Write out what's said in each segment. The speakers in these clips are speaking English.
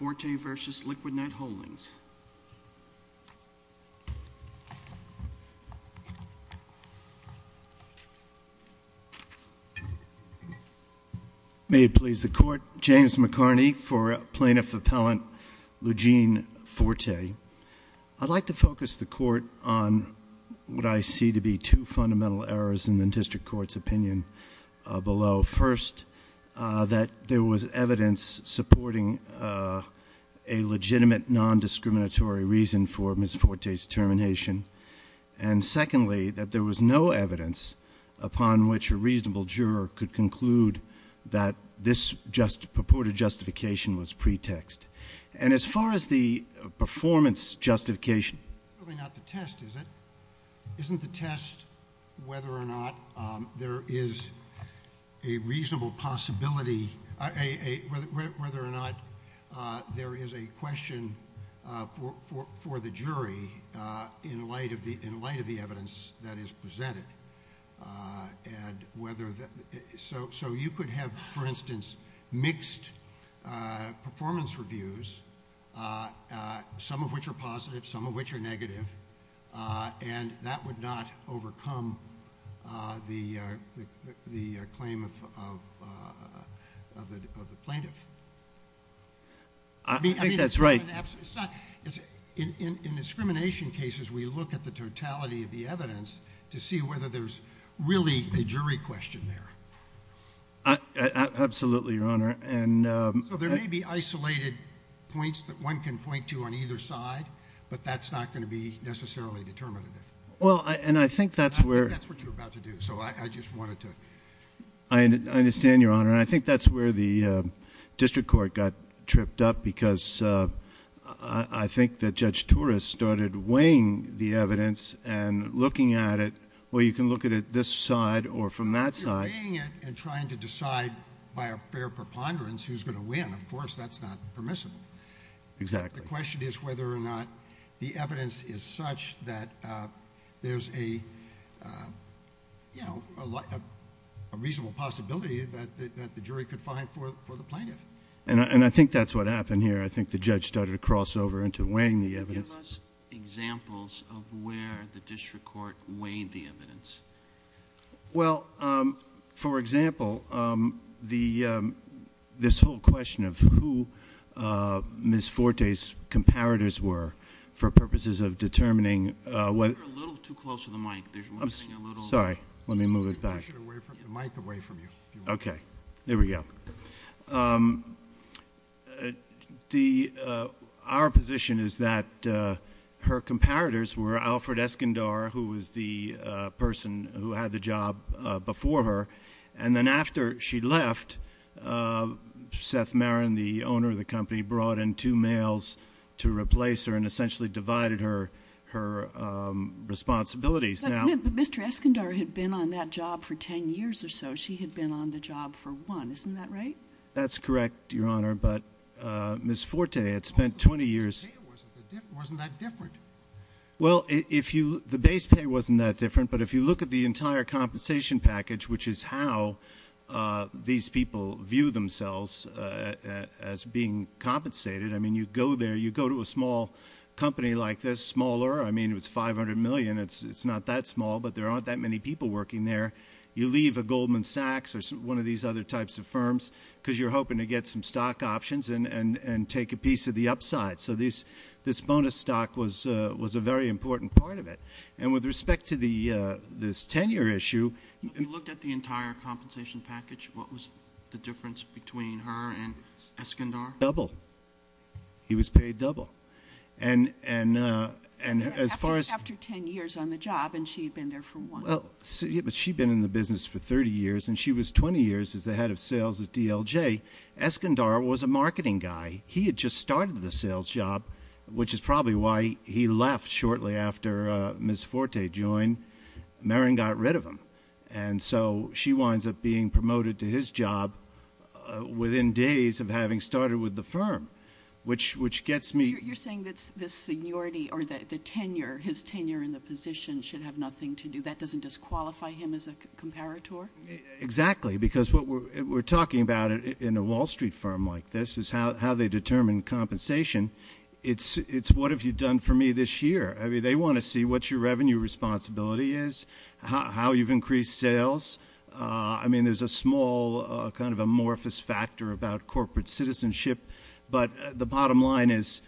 would like to focus the court on what I see to be two fundamental errors in the district court's opinion below. First, that there was evidence supporting a legitimate non-discriminatory reason for Ms. Forte's termination. And secondly, that there was no evidence upon which a reasonable juror could conclude that this purported justification was pretext. And as far as the performance It's really not the test, is it? Isn't the test whether or not there is a reasonable possibility, whether or not there is a question for the jury in light of the evidence that is presented? So you could have, for instance, mixed performance reviews, some of which are positive, some of which are negative, and that would not overcome the claim of the plaintiff. I think that's right. In discrimination cases, we look at the totality of the evidence to see whether there's really a jury question there. Absolutely, Your Honor. So there may be isolated points that one can point to on either side, but that's not going to be necessarily determinative. I think that's what you're about to do. I understand, Your Honor. I think that's where the you can look at it this side or from that side. You're weighing it and trying to decide by a fair preponderance who's going to win. Of course, that's not permissible. Exactly. The question is whether or not the evidence is such that there's a reasonable possibility that the jury could find for the plaintiff. And I think that's what happened here. I think the judge started to cross over into weighing the evidence. Can you give us examples of where the district court weighed the evidence? Well, for example, this whole question of who Ms. Forte's comparators were for purposes of determining whether— You're a little too close to the mic. Sorry. Let me move it back. Okay. There we go. Our position is that her comparators were Alfred Escondar, who was the person who had the job before her. And then after she left, Seth Marin, the owner of the company, brought in two males to replace her and essentially divided her responsibilities. But Mr. Escondar had been on that job for 10 years or so. She had been on the job for one. Isn't that right? That's correct, Your Honor. But Ms. Forte had spent 20 years— The base pay wasn't that different. Well, the base pay wasn't that different. But if you look at the entire small company like this—smaller. I mean, it was $500 million. It's not that small, but there aren't that many people working there. You leave a Goldman Sachs or one of these other types of firms because you're hoping to get some stock options and take a piece of the upside. So this bonus stock was a very important part of it. And with respect to this tenure issue— If you looked at the entire compensation package, what was the difference between her and Escondar? Double. He was paid double. And as far as— After 10 years on the job, and she had been there for one. But she'd been in the business for 30 years, and she was 20 years as the head of sales at DLJ. Escondar was a marketing guy. He had just started the sales job, which is probably why he left shortly after Ms. Forte joined. Marin got rid of him. And so she winds up being promoted to his job within days of having started with the firm, which gets me— You're saying that this seniority or the tenure, his tenure in the position, should have nothing to do— That doesn't disqualify him as a comparator? Exactly. Because what we're talking about in a Wall Street firm like this is how they determine compensation. It's what have you done for me this year? I mean, they want to see what your revenue responsibility is, how you've increased sales. I mean, there's a small kind of amorphous factor about corporate citizenship. But the bottom line is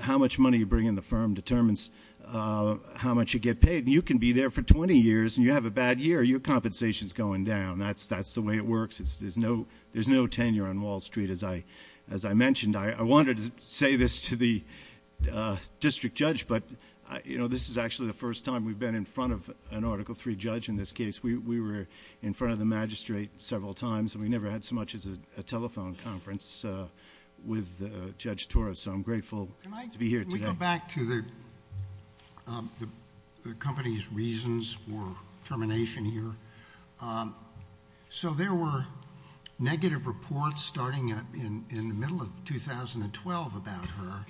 how much money you bring in the firm determines how much you get paid. You can be there for 20 years, and you have a bad year. Your compensation's going down. That's the way it works. There's no tenure on Wall Street, as I mentioned. I wanted to say this to the district judge, but this is actually the first time we've been in front of an Article III judge in this case. We were in front of the magistrate several times, and we never had so much as a telephone conference with Judge Torres. So I'm grateful to be here today. Can we go back to the company's reasons for termination here? So there were negative reports starting in the middle of 2012 about her,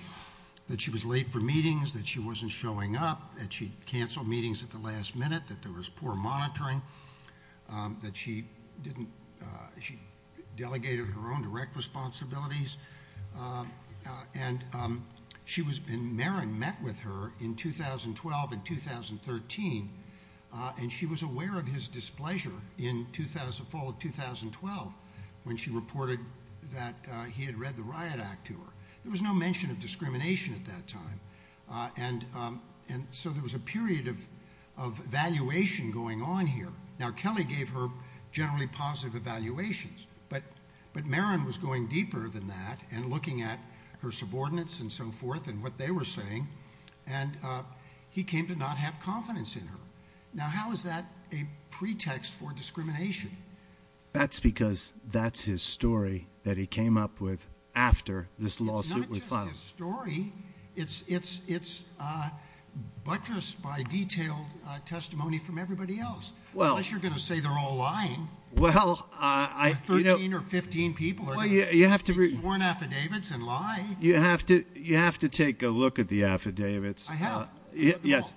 that she was late for meetings, that she wasn't showing up, that she canceled meetings at the last minute, that there was poor monitoring, that she delegated her own direct responsibilities. And Marin met with her in 2012 and 2013, and she was aware of his displeasure in the fall of 2012 when she reported that he had read the Riot Act to her. There was no mention of discrimination at that time, and so there was a period of evaluation going on here. Now, Kelly gave her generally positive evaluations, but Marin was going deeper than that and looking at her subordinates and so forth and what they were saying, and he came to not have confidence in her. Now, how is that a pretext for discrimination? That's because that's his story that he came up with after this lawsuit was filed. It's not just his story. It's buttressed by detailed testimony from everybody else. Unless you're going to say they're all lying. Well, I- 13 or 15 people are sworn affidavits and lie. You have to take a look at the affidavits. I have. Yes.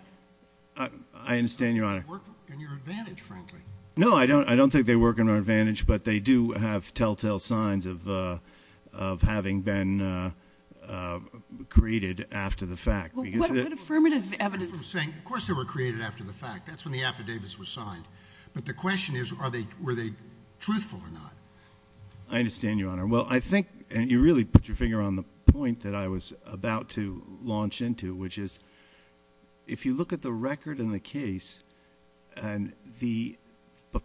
I understand, Your Honor. They work in your advantage, frankly. No, I don't think they work in our advantage, but they do have telltale signs of having been created after the fact. What affirmative evidence? Of course they were created after the fact. That's when the affidavits were signed. But the question is, were they truthful or not? I understand, Your Honor. Well, I think, and you really put your finger on the point that I was about to launch into, which is if you look at the record in the case,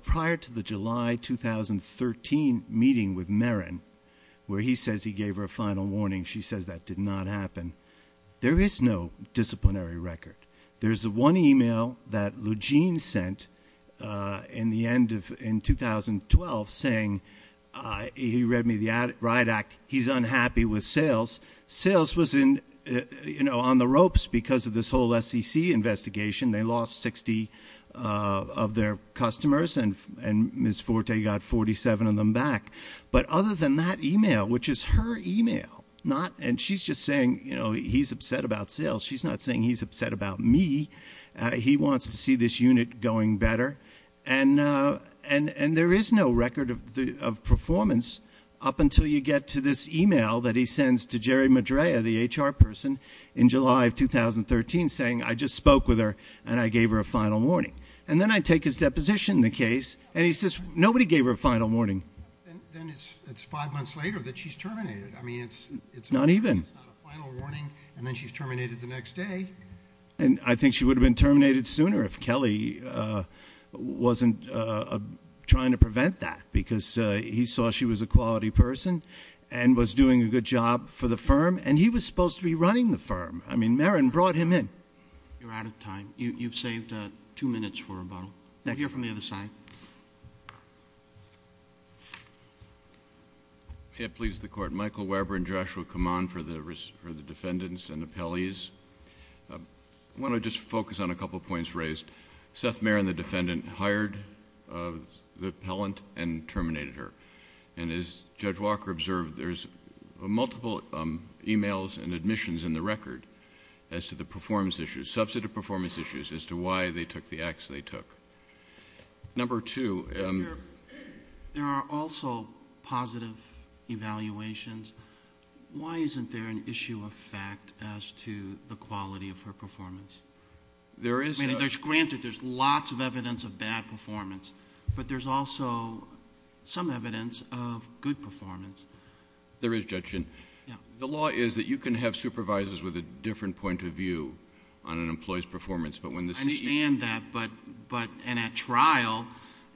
prior to the July 2013 meeting with Marin, where he says he gave her a final warning, she says that did not happen, there is no disciplinary record. There's one email that Lejean sent in 2012 saying, he read me the Riot Act, he's unhappy with sales. Sales was on the ropes because of this whole SEC investigation. They lost 60 of their customers, and Ms. Forte got 47 of them back. But other than that email, which is her email, and she's just saying he's upset about sales. She's not saying he's upset about me. He wants to see this unit going better. And there is no record of performance up until you get to this email that he sends to Jerry Madrea, the HR person, in July of 2013 saying, I just spoke with her and I gave her a final warning. And then I take his deposition in the case, and he says nobody gave her a final warning. Then it's five months later that she's terminated. I mean, it's not a final warning, and then she's terminated the next day. And I think she would have been terminated sooner if Kelly wasn't trying to prevent that, because he saw she was a quality person and was doing a good job for the firm, and he was supposed to be running the firm. I mean, Marin brought him in. You're out of time. You've saved two minutes for rebuttal. Thank you. Now hear from the other side. It pleases the Court. Michael Weber and Joshua Kaman for the defendants and appellees. I want to just focus on a couple of points raised. Seth Marin, the defendant, hired the appellant and terminated her. And as Judge Walker observed, there's multiple emails and admissions in the record as to the performance issues, substantive performance issues, as to why they took the acts they took. Number two. There are also positive evaluations. Why isn't there an issue of fact as to the quality of her performance? I mean, granted, there's lots of evidence of bad performance, but there's also some evidence of good performance. There is, Judge Shin. The law is that you can have supervisors with a different point of view on an employee's performance. I understand that, and at trial,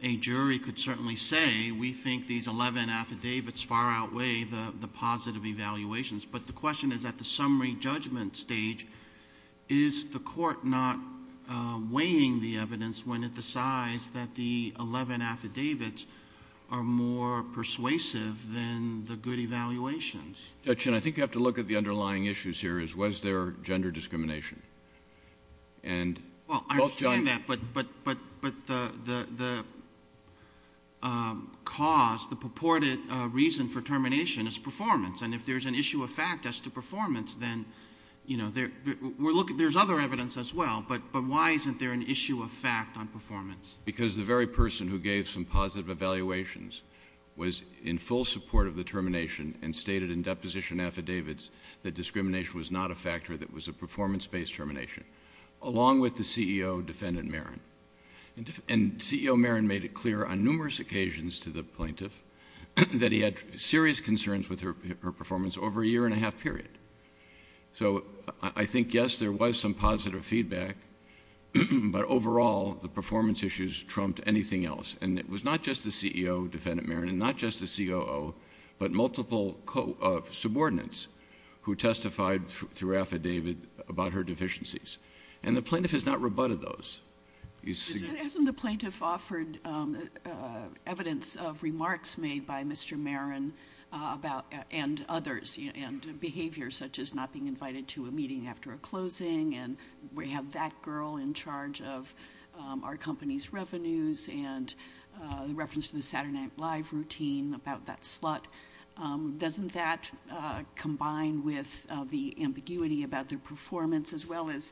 a jury could certainly say, we think these 11 affidavits far outweigh the positive evaluations. But the question is, at the summary judgment stage, is the court not weighing the evidence when it decides that the 11 affidavits are more persuasive than the good evaluations? Judge Shin, I think you have to look at the underlying issues here. Was there gender discrimination? Well, I understand that, but the cause, the purported reason for termination is performance. And if there's an issue of fact as to performance, then there's other evidence as well, but why isn't there an issue of fact on performance? Because the very person who gave some positive evaluations was in full support of the termination and stated in deposition affidavits that discrimination was not a factor, that it was a performance-based termination, along with the CEO, Defendant Marin. And CEO Marin made it clear on numerous occasions to the plaintiff that he had serious concerns with her performance over a year-and-a-half period. So I think, yes, there was some positive feedback, but overall the performance issues trumped anything else. And it was not just the CEO, Defendant Marin, and not just the COO, but multiple subordinates who testified through affidavit about her deficiencies. And the plaintiff has not rebutted those. Hasn't the plaintiff offered evidence of remarks made by Mr. Marin and others, and behavior such as not being invited to a meeting after a closing, and we have that girl in charge of our company's revenues, and the reference to the Saturday Night Live routine about that slut? Doesn't that combine with the ambiguity about their performance as well as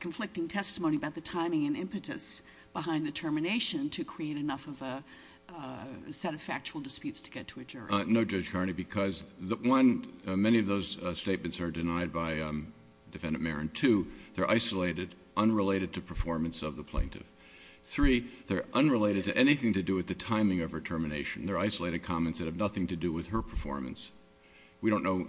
conflicting testimony about the timing and impetus behind the termination to create enough of a set of factual disputes to get to a jury? No, Judge Carney, because, one, many of those statements are denied by Defendant Marin. Two, they're isolated, unrelated to performance of the plaintiff. Three, they're unrelated to anything to do with the timing of her termination. They're isolated comments that have nothing to do with her performance. We don't know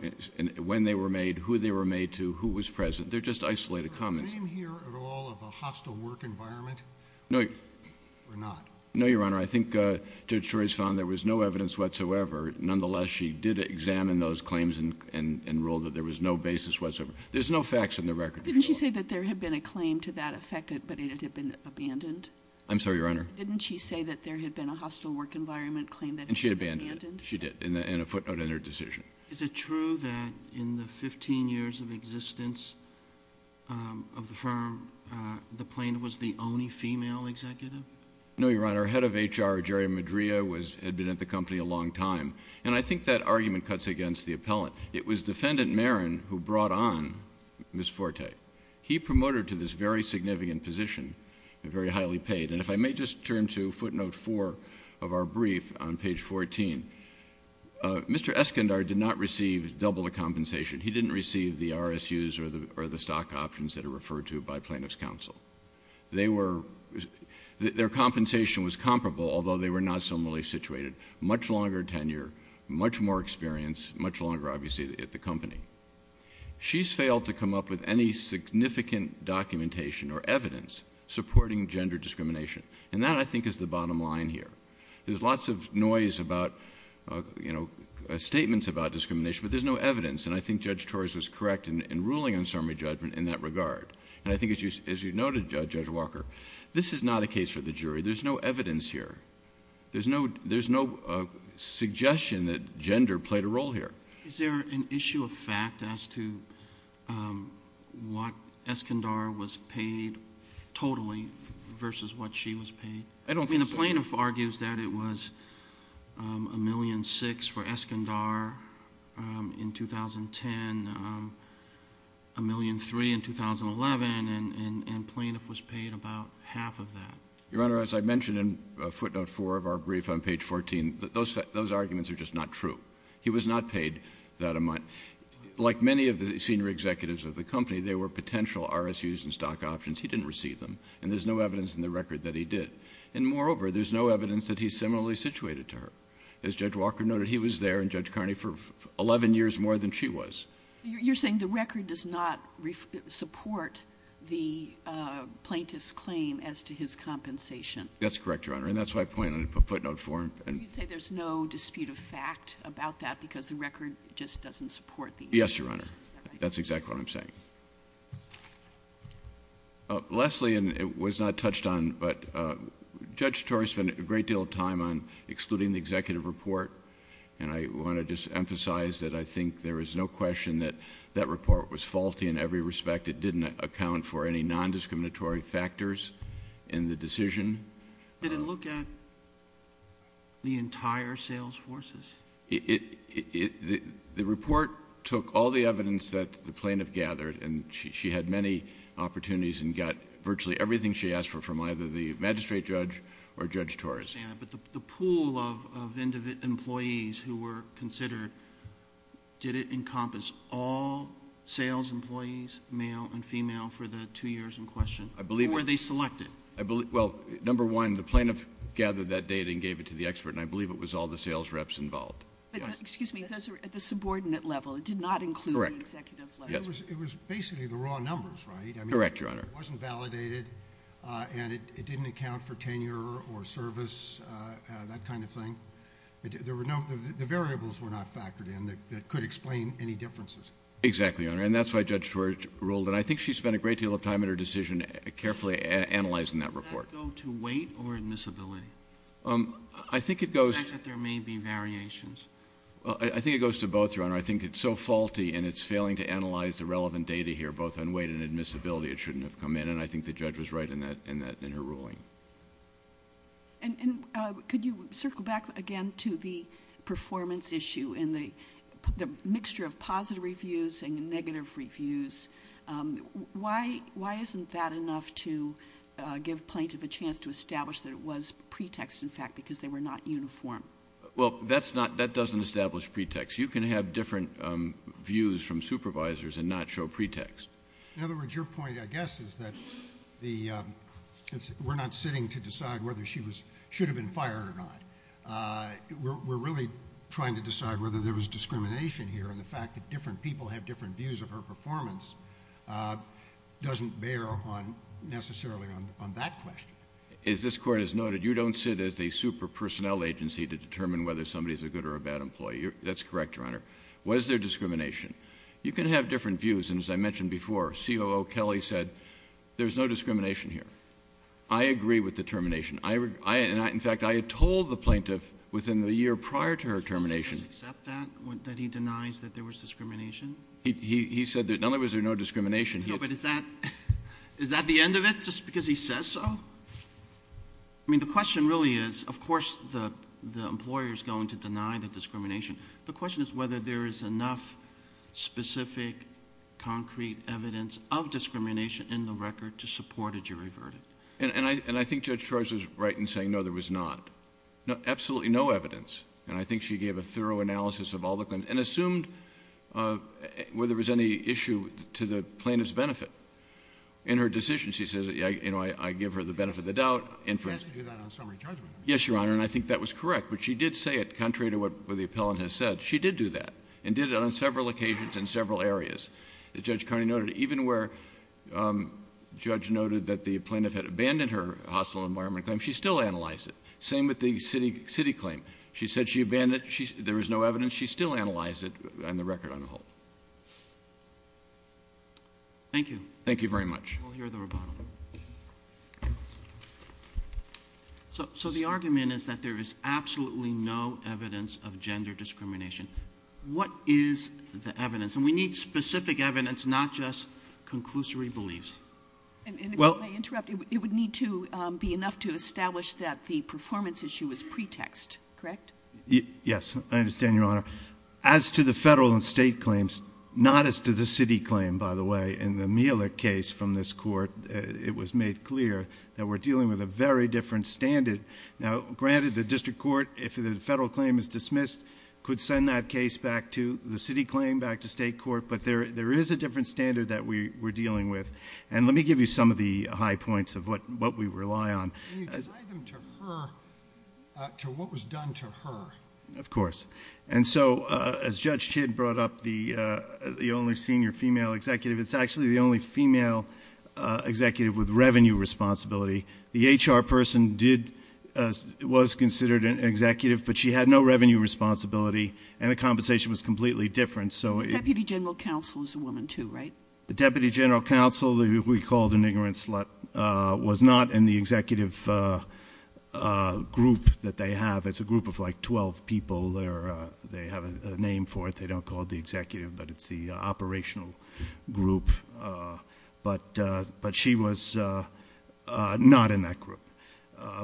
when they were made, who they were made to, who was present. They're just isolated comments. Did she claim here at all of a hostile work environment? No. Or not? No, Your Honor. I think Judge Torres found there was no evidence whatsoever. Nonetheless, she did examine those claims and ruled that there was no basis whatsoever. There's no facts in the record. Didn't she say that there had been a claim to that effect, but it had been abandoned? I'm sorry, Your Honor. Didn't she say that there had been a hostile work environment claim that had been abandoned? And she had abandoned it. She did, and a footnote in her decision. Is it true that in the 15 years of existence of the firm, the plaintiff was the only female executive? No, Your Honor. Head of HR, Jerry Madria, had been at the company a long time. And I think that argument cuts against the appellant. It was Defendant Marin who brought on Ms. Forte. He promoted her to this very significant position, very highly paid. And if I may just turn to footnote four of our brief on page 14. Mr. Eskandar did not receive double the compensation. He didn't receive the RSUs or the stock options that are referred to by plaintiff's counsel. Their compensation was comparable, although they were not similarly situated. Much longer tenure, much more experience, much longer, obviously, at the company. She's failed to come up with any significant documentation or evidence supporting gender discrimination. And that, I think, is the bottom line here. There's lots of noise about, you know, statements about discrimination, but there's no evidence. And I think Judge Torres was correct in ruling on summary judgment in that regard. And I think, as you noted, Judge Walker, this is not a case for the jury. There's no evidence here. There's no suggestion that gender played a role here. Is there an issue of fact as to what Eskandar was paid totally versus what she was paid? I don't think so. I mean, the plaintiff argues that it was $1,006,000 for Eskandar in 2010, $1,003,000 in 2011, and plaintiff was paid about half of that. Your Honor, as I mentioned in footnote 4 of our brief on page 14, those arguments are just not true. He was not paid that amount. Like many of the senior executives of the company, there were potential RSUs and stock options. He didn't receive them. And there's no evidence in the record that he did. And moreover, there's no evidence that he's similarly situated to her. As Judge Walker noted, he was there and Judge Carney for 11 years more than she was. You're saying the record does not support the plaintiff's claim as to his compensation? That's correct, Your Honor. And that's why I point on footnote 4. You'd say there's no dispute of fact about that because the record just doesn't support the evidence. Yes, Your Honor. That's exactly what I'm saying. Leslie, and it was not touched on, but Judge Torrey spent a great deal of time on excluding the executive report. And I want to just emphasize that I think there is no question that that report was faulty in every respect. It didn't account for any nondiscriminatory factors in the decision. Did it look at the entire sales forces? The report took all the evidence that the plaintiff gathered. And she had many opportunities and got virtually everything she asked for from either the magistrate judge or Judge Torres. But the pool of employees who were considered, did it encompass all sales employees, male and female, for the two years in question? I believe... Or were they selected? Well, number one, the plaintiff gathered that data and gave it to the expert, and I believe it was all the sales reps involved. Excuse me. Those are at the subordinate level. It did not include the executive level. It was basically the raw numbers, right? Correct, Your Honor. It wasn't validated, and it didn't account for tenure or service, that kind of thing. The variables were not factored in that could explain any differences. Exactly, Your Honor. And that's why Judge Torres ruled. And I think she spent a great deal of time in her decision carefully analyzing that report. Does that go to weight or admissibility? I think it goes... The fact that there may be variations. I think it goes to both, Your Honor. I think it's so faulty, and it's failing to analyze the relevant data here, both on weight and admissibility, it shouldn't have come in. And I think the judge was right in her ruling. And could you circle back again to the performance issue and the mixture of positive reviews and negative reviews? Why isn't that enough to give plaintiff a chance to establish that it was pretext, in fact, because they were not uniform? Well, that doesn't establish pretext. You can have different views from supervisors and not show pretext. In other words, your point, I guess, is that we're not sitting to decide whether she should have been fired or not. We're really trying to decide whether there was discrimination here. And the fact that different people have different views of her performance doesn't bear necessarily on that question. As this Court has noted, you don't sit as a super personnel agency to determine whether somebody is a good or a bad employee. That's correct, Your Honor. Was there discrimination? You can have different views. And as I mentioned before, COO Kelly said there's no discrimination here. I agree with the termination. In fact, I had told the plaintiff within the year prior to her termination. Does the judge accept that, that he denies that there was discrimination? He said that not only was there no discrimination. No, but is that the end of it, just because he says so? I mean, the question really is, of course, the employer is going to deny the discrimination. The question is whether there is enough specific, concrete evidence of discrimination in the record to support a jury verdict. And I think Judge Trois was right in saying no, there was not. Absolutely no evidence. And I think she gave a thorough analysis of all the claims and assumed whether there was any issue to the plaintiff's benefit. In her decision, she says, you know, I give her the benefit of the doubt. She asked to do that on summary judgment. Yes, Your Honor, and I think that was correct. But she did say it, contrary to what the appellant has said. She did do that and did it on several occasions in several areas. As Judge Carney noted, even where Judge noted that the plaintiff had abandoned her hostile environment claim, she still analyzed it. Same with the city claim. She said she abandoned it. There was no evidence. She still analyzed it on the record on the whole. Thank you. Thank you very much. We'll hear the rebuttal. So the argument is that there is absolutely no evidence of gender discrimination. What is the evidence? And we need specific evidence, not just conclusory beliefs. And if I may interrupt, it would need to be enough to establish that the performance issue is pretext, correct? Yes, I understand, Your Honor. As to the federal and state claims, not as to the city claim, by the way, in the Miele case from this court, it was made clear that we're dealing with a very different standard. Now, granted, the district court, if the federal claim is dismissed, could send that case back to the city claim, back to state court. But there is a different standard that we're dealing with. And let me give you some of the high points of what we rely on. Can you tie them to her, to what was done to her? Of course. And so as Judge Chitt brought up, the only senior female executive, it's actually the only female executive with revenue responsibility. The HR person was considered an executive, but she had no revenue responsibility, and the compensation was completely different. The Deputy General Counsel is a woman too, right? The Deputy General Counsel, who we called an ignorant slut, was not in the executive group that they have. It's a group of like 12 people. They have a name for it. They don't call it the executive, but it's the operational group. But she was not in that group.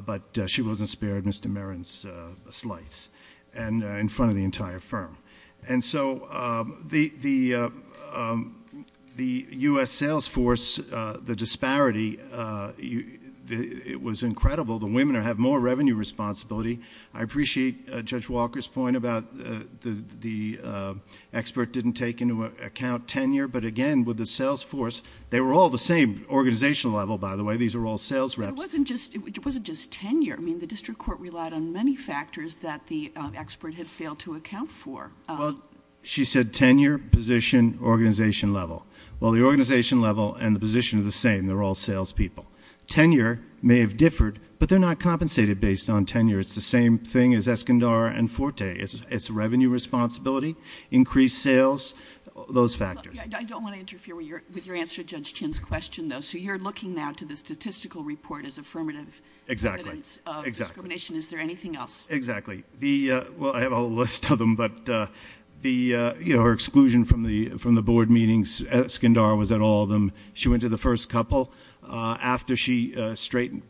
But she wasn't spared Mr. Merrin's slice in front of the entire firm. And so the U.S. sales force, the disparity, it was incredible. The women have more revenue responsibility. I appreciate Judge Walker's point about the expert didn't take into account tenure. But again, with the sales force, they were all the same organizational level, by the way. These are all sales reps. It wasn't just tenure. I mean, the district court relied on many factors that the expert had failed to account for. Well, she said tenure, position, organization level. Well, the organization level and the position are the same. They're all sales people. Tenure may have differed, but they're not compensated based on tenure. It's the same thing as Escondar and Forte. It's revenue responsibility, increased sales, those factors. I don't want to interfere with your answer to Judge Chin's question, though. So you're looking now to the statistical report as affirmative evidence of discrimination. Is there anything else? Exactly. Well, I have a whole list of them. But her exclusion from the board meetings, Escondar was at all of them. She went to the first couple after she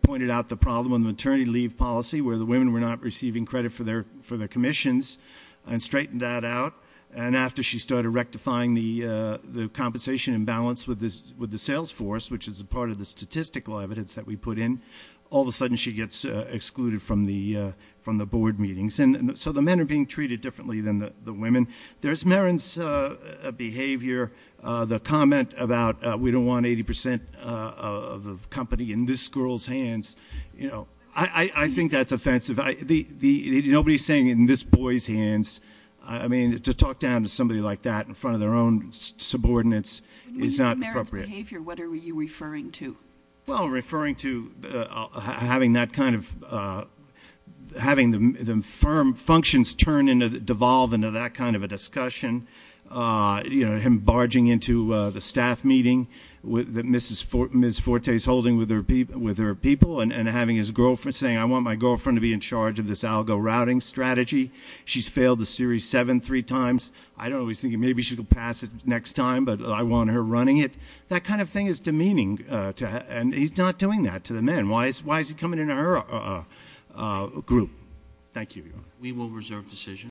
pointed out the problem with maternity leave policy, where the women were not receiving credit for their commissions, and straightened that out. And after she started rectifying the compensation imbalance with the sales force, which is a part of the statistical evidence that we put in, all of a sudden she gets excluded from the board meetings. So the men are being treated differently than the women. There's Merrin's behavior, the comment about we don't want 80% of the company in this girl's hands. I think that's offensive. Nobody's saying it in this boy's hands. I mean, to talk down to somebody like that in front of their own subordinates is not appropriate. When you say Merrin's behavior, what are you referring to? Well, I'm referring to having the firm functions devolve into that kind of a discussion, him barging into the staff meeting that Ms. Forte is holding with her people, and having his girlfriend saying, I want my girlfriend to be in charge of this algo routing strategy. She's failed the series seven three times. I don't know, he's thinking maybe she'll pass it next time, but I want her running it. That kind of thing is demeaning, and he's not doing that to the men. Why is he coming into her group? Thank you. We will reserve decision.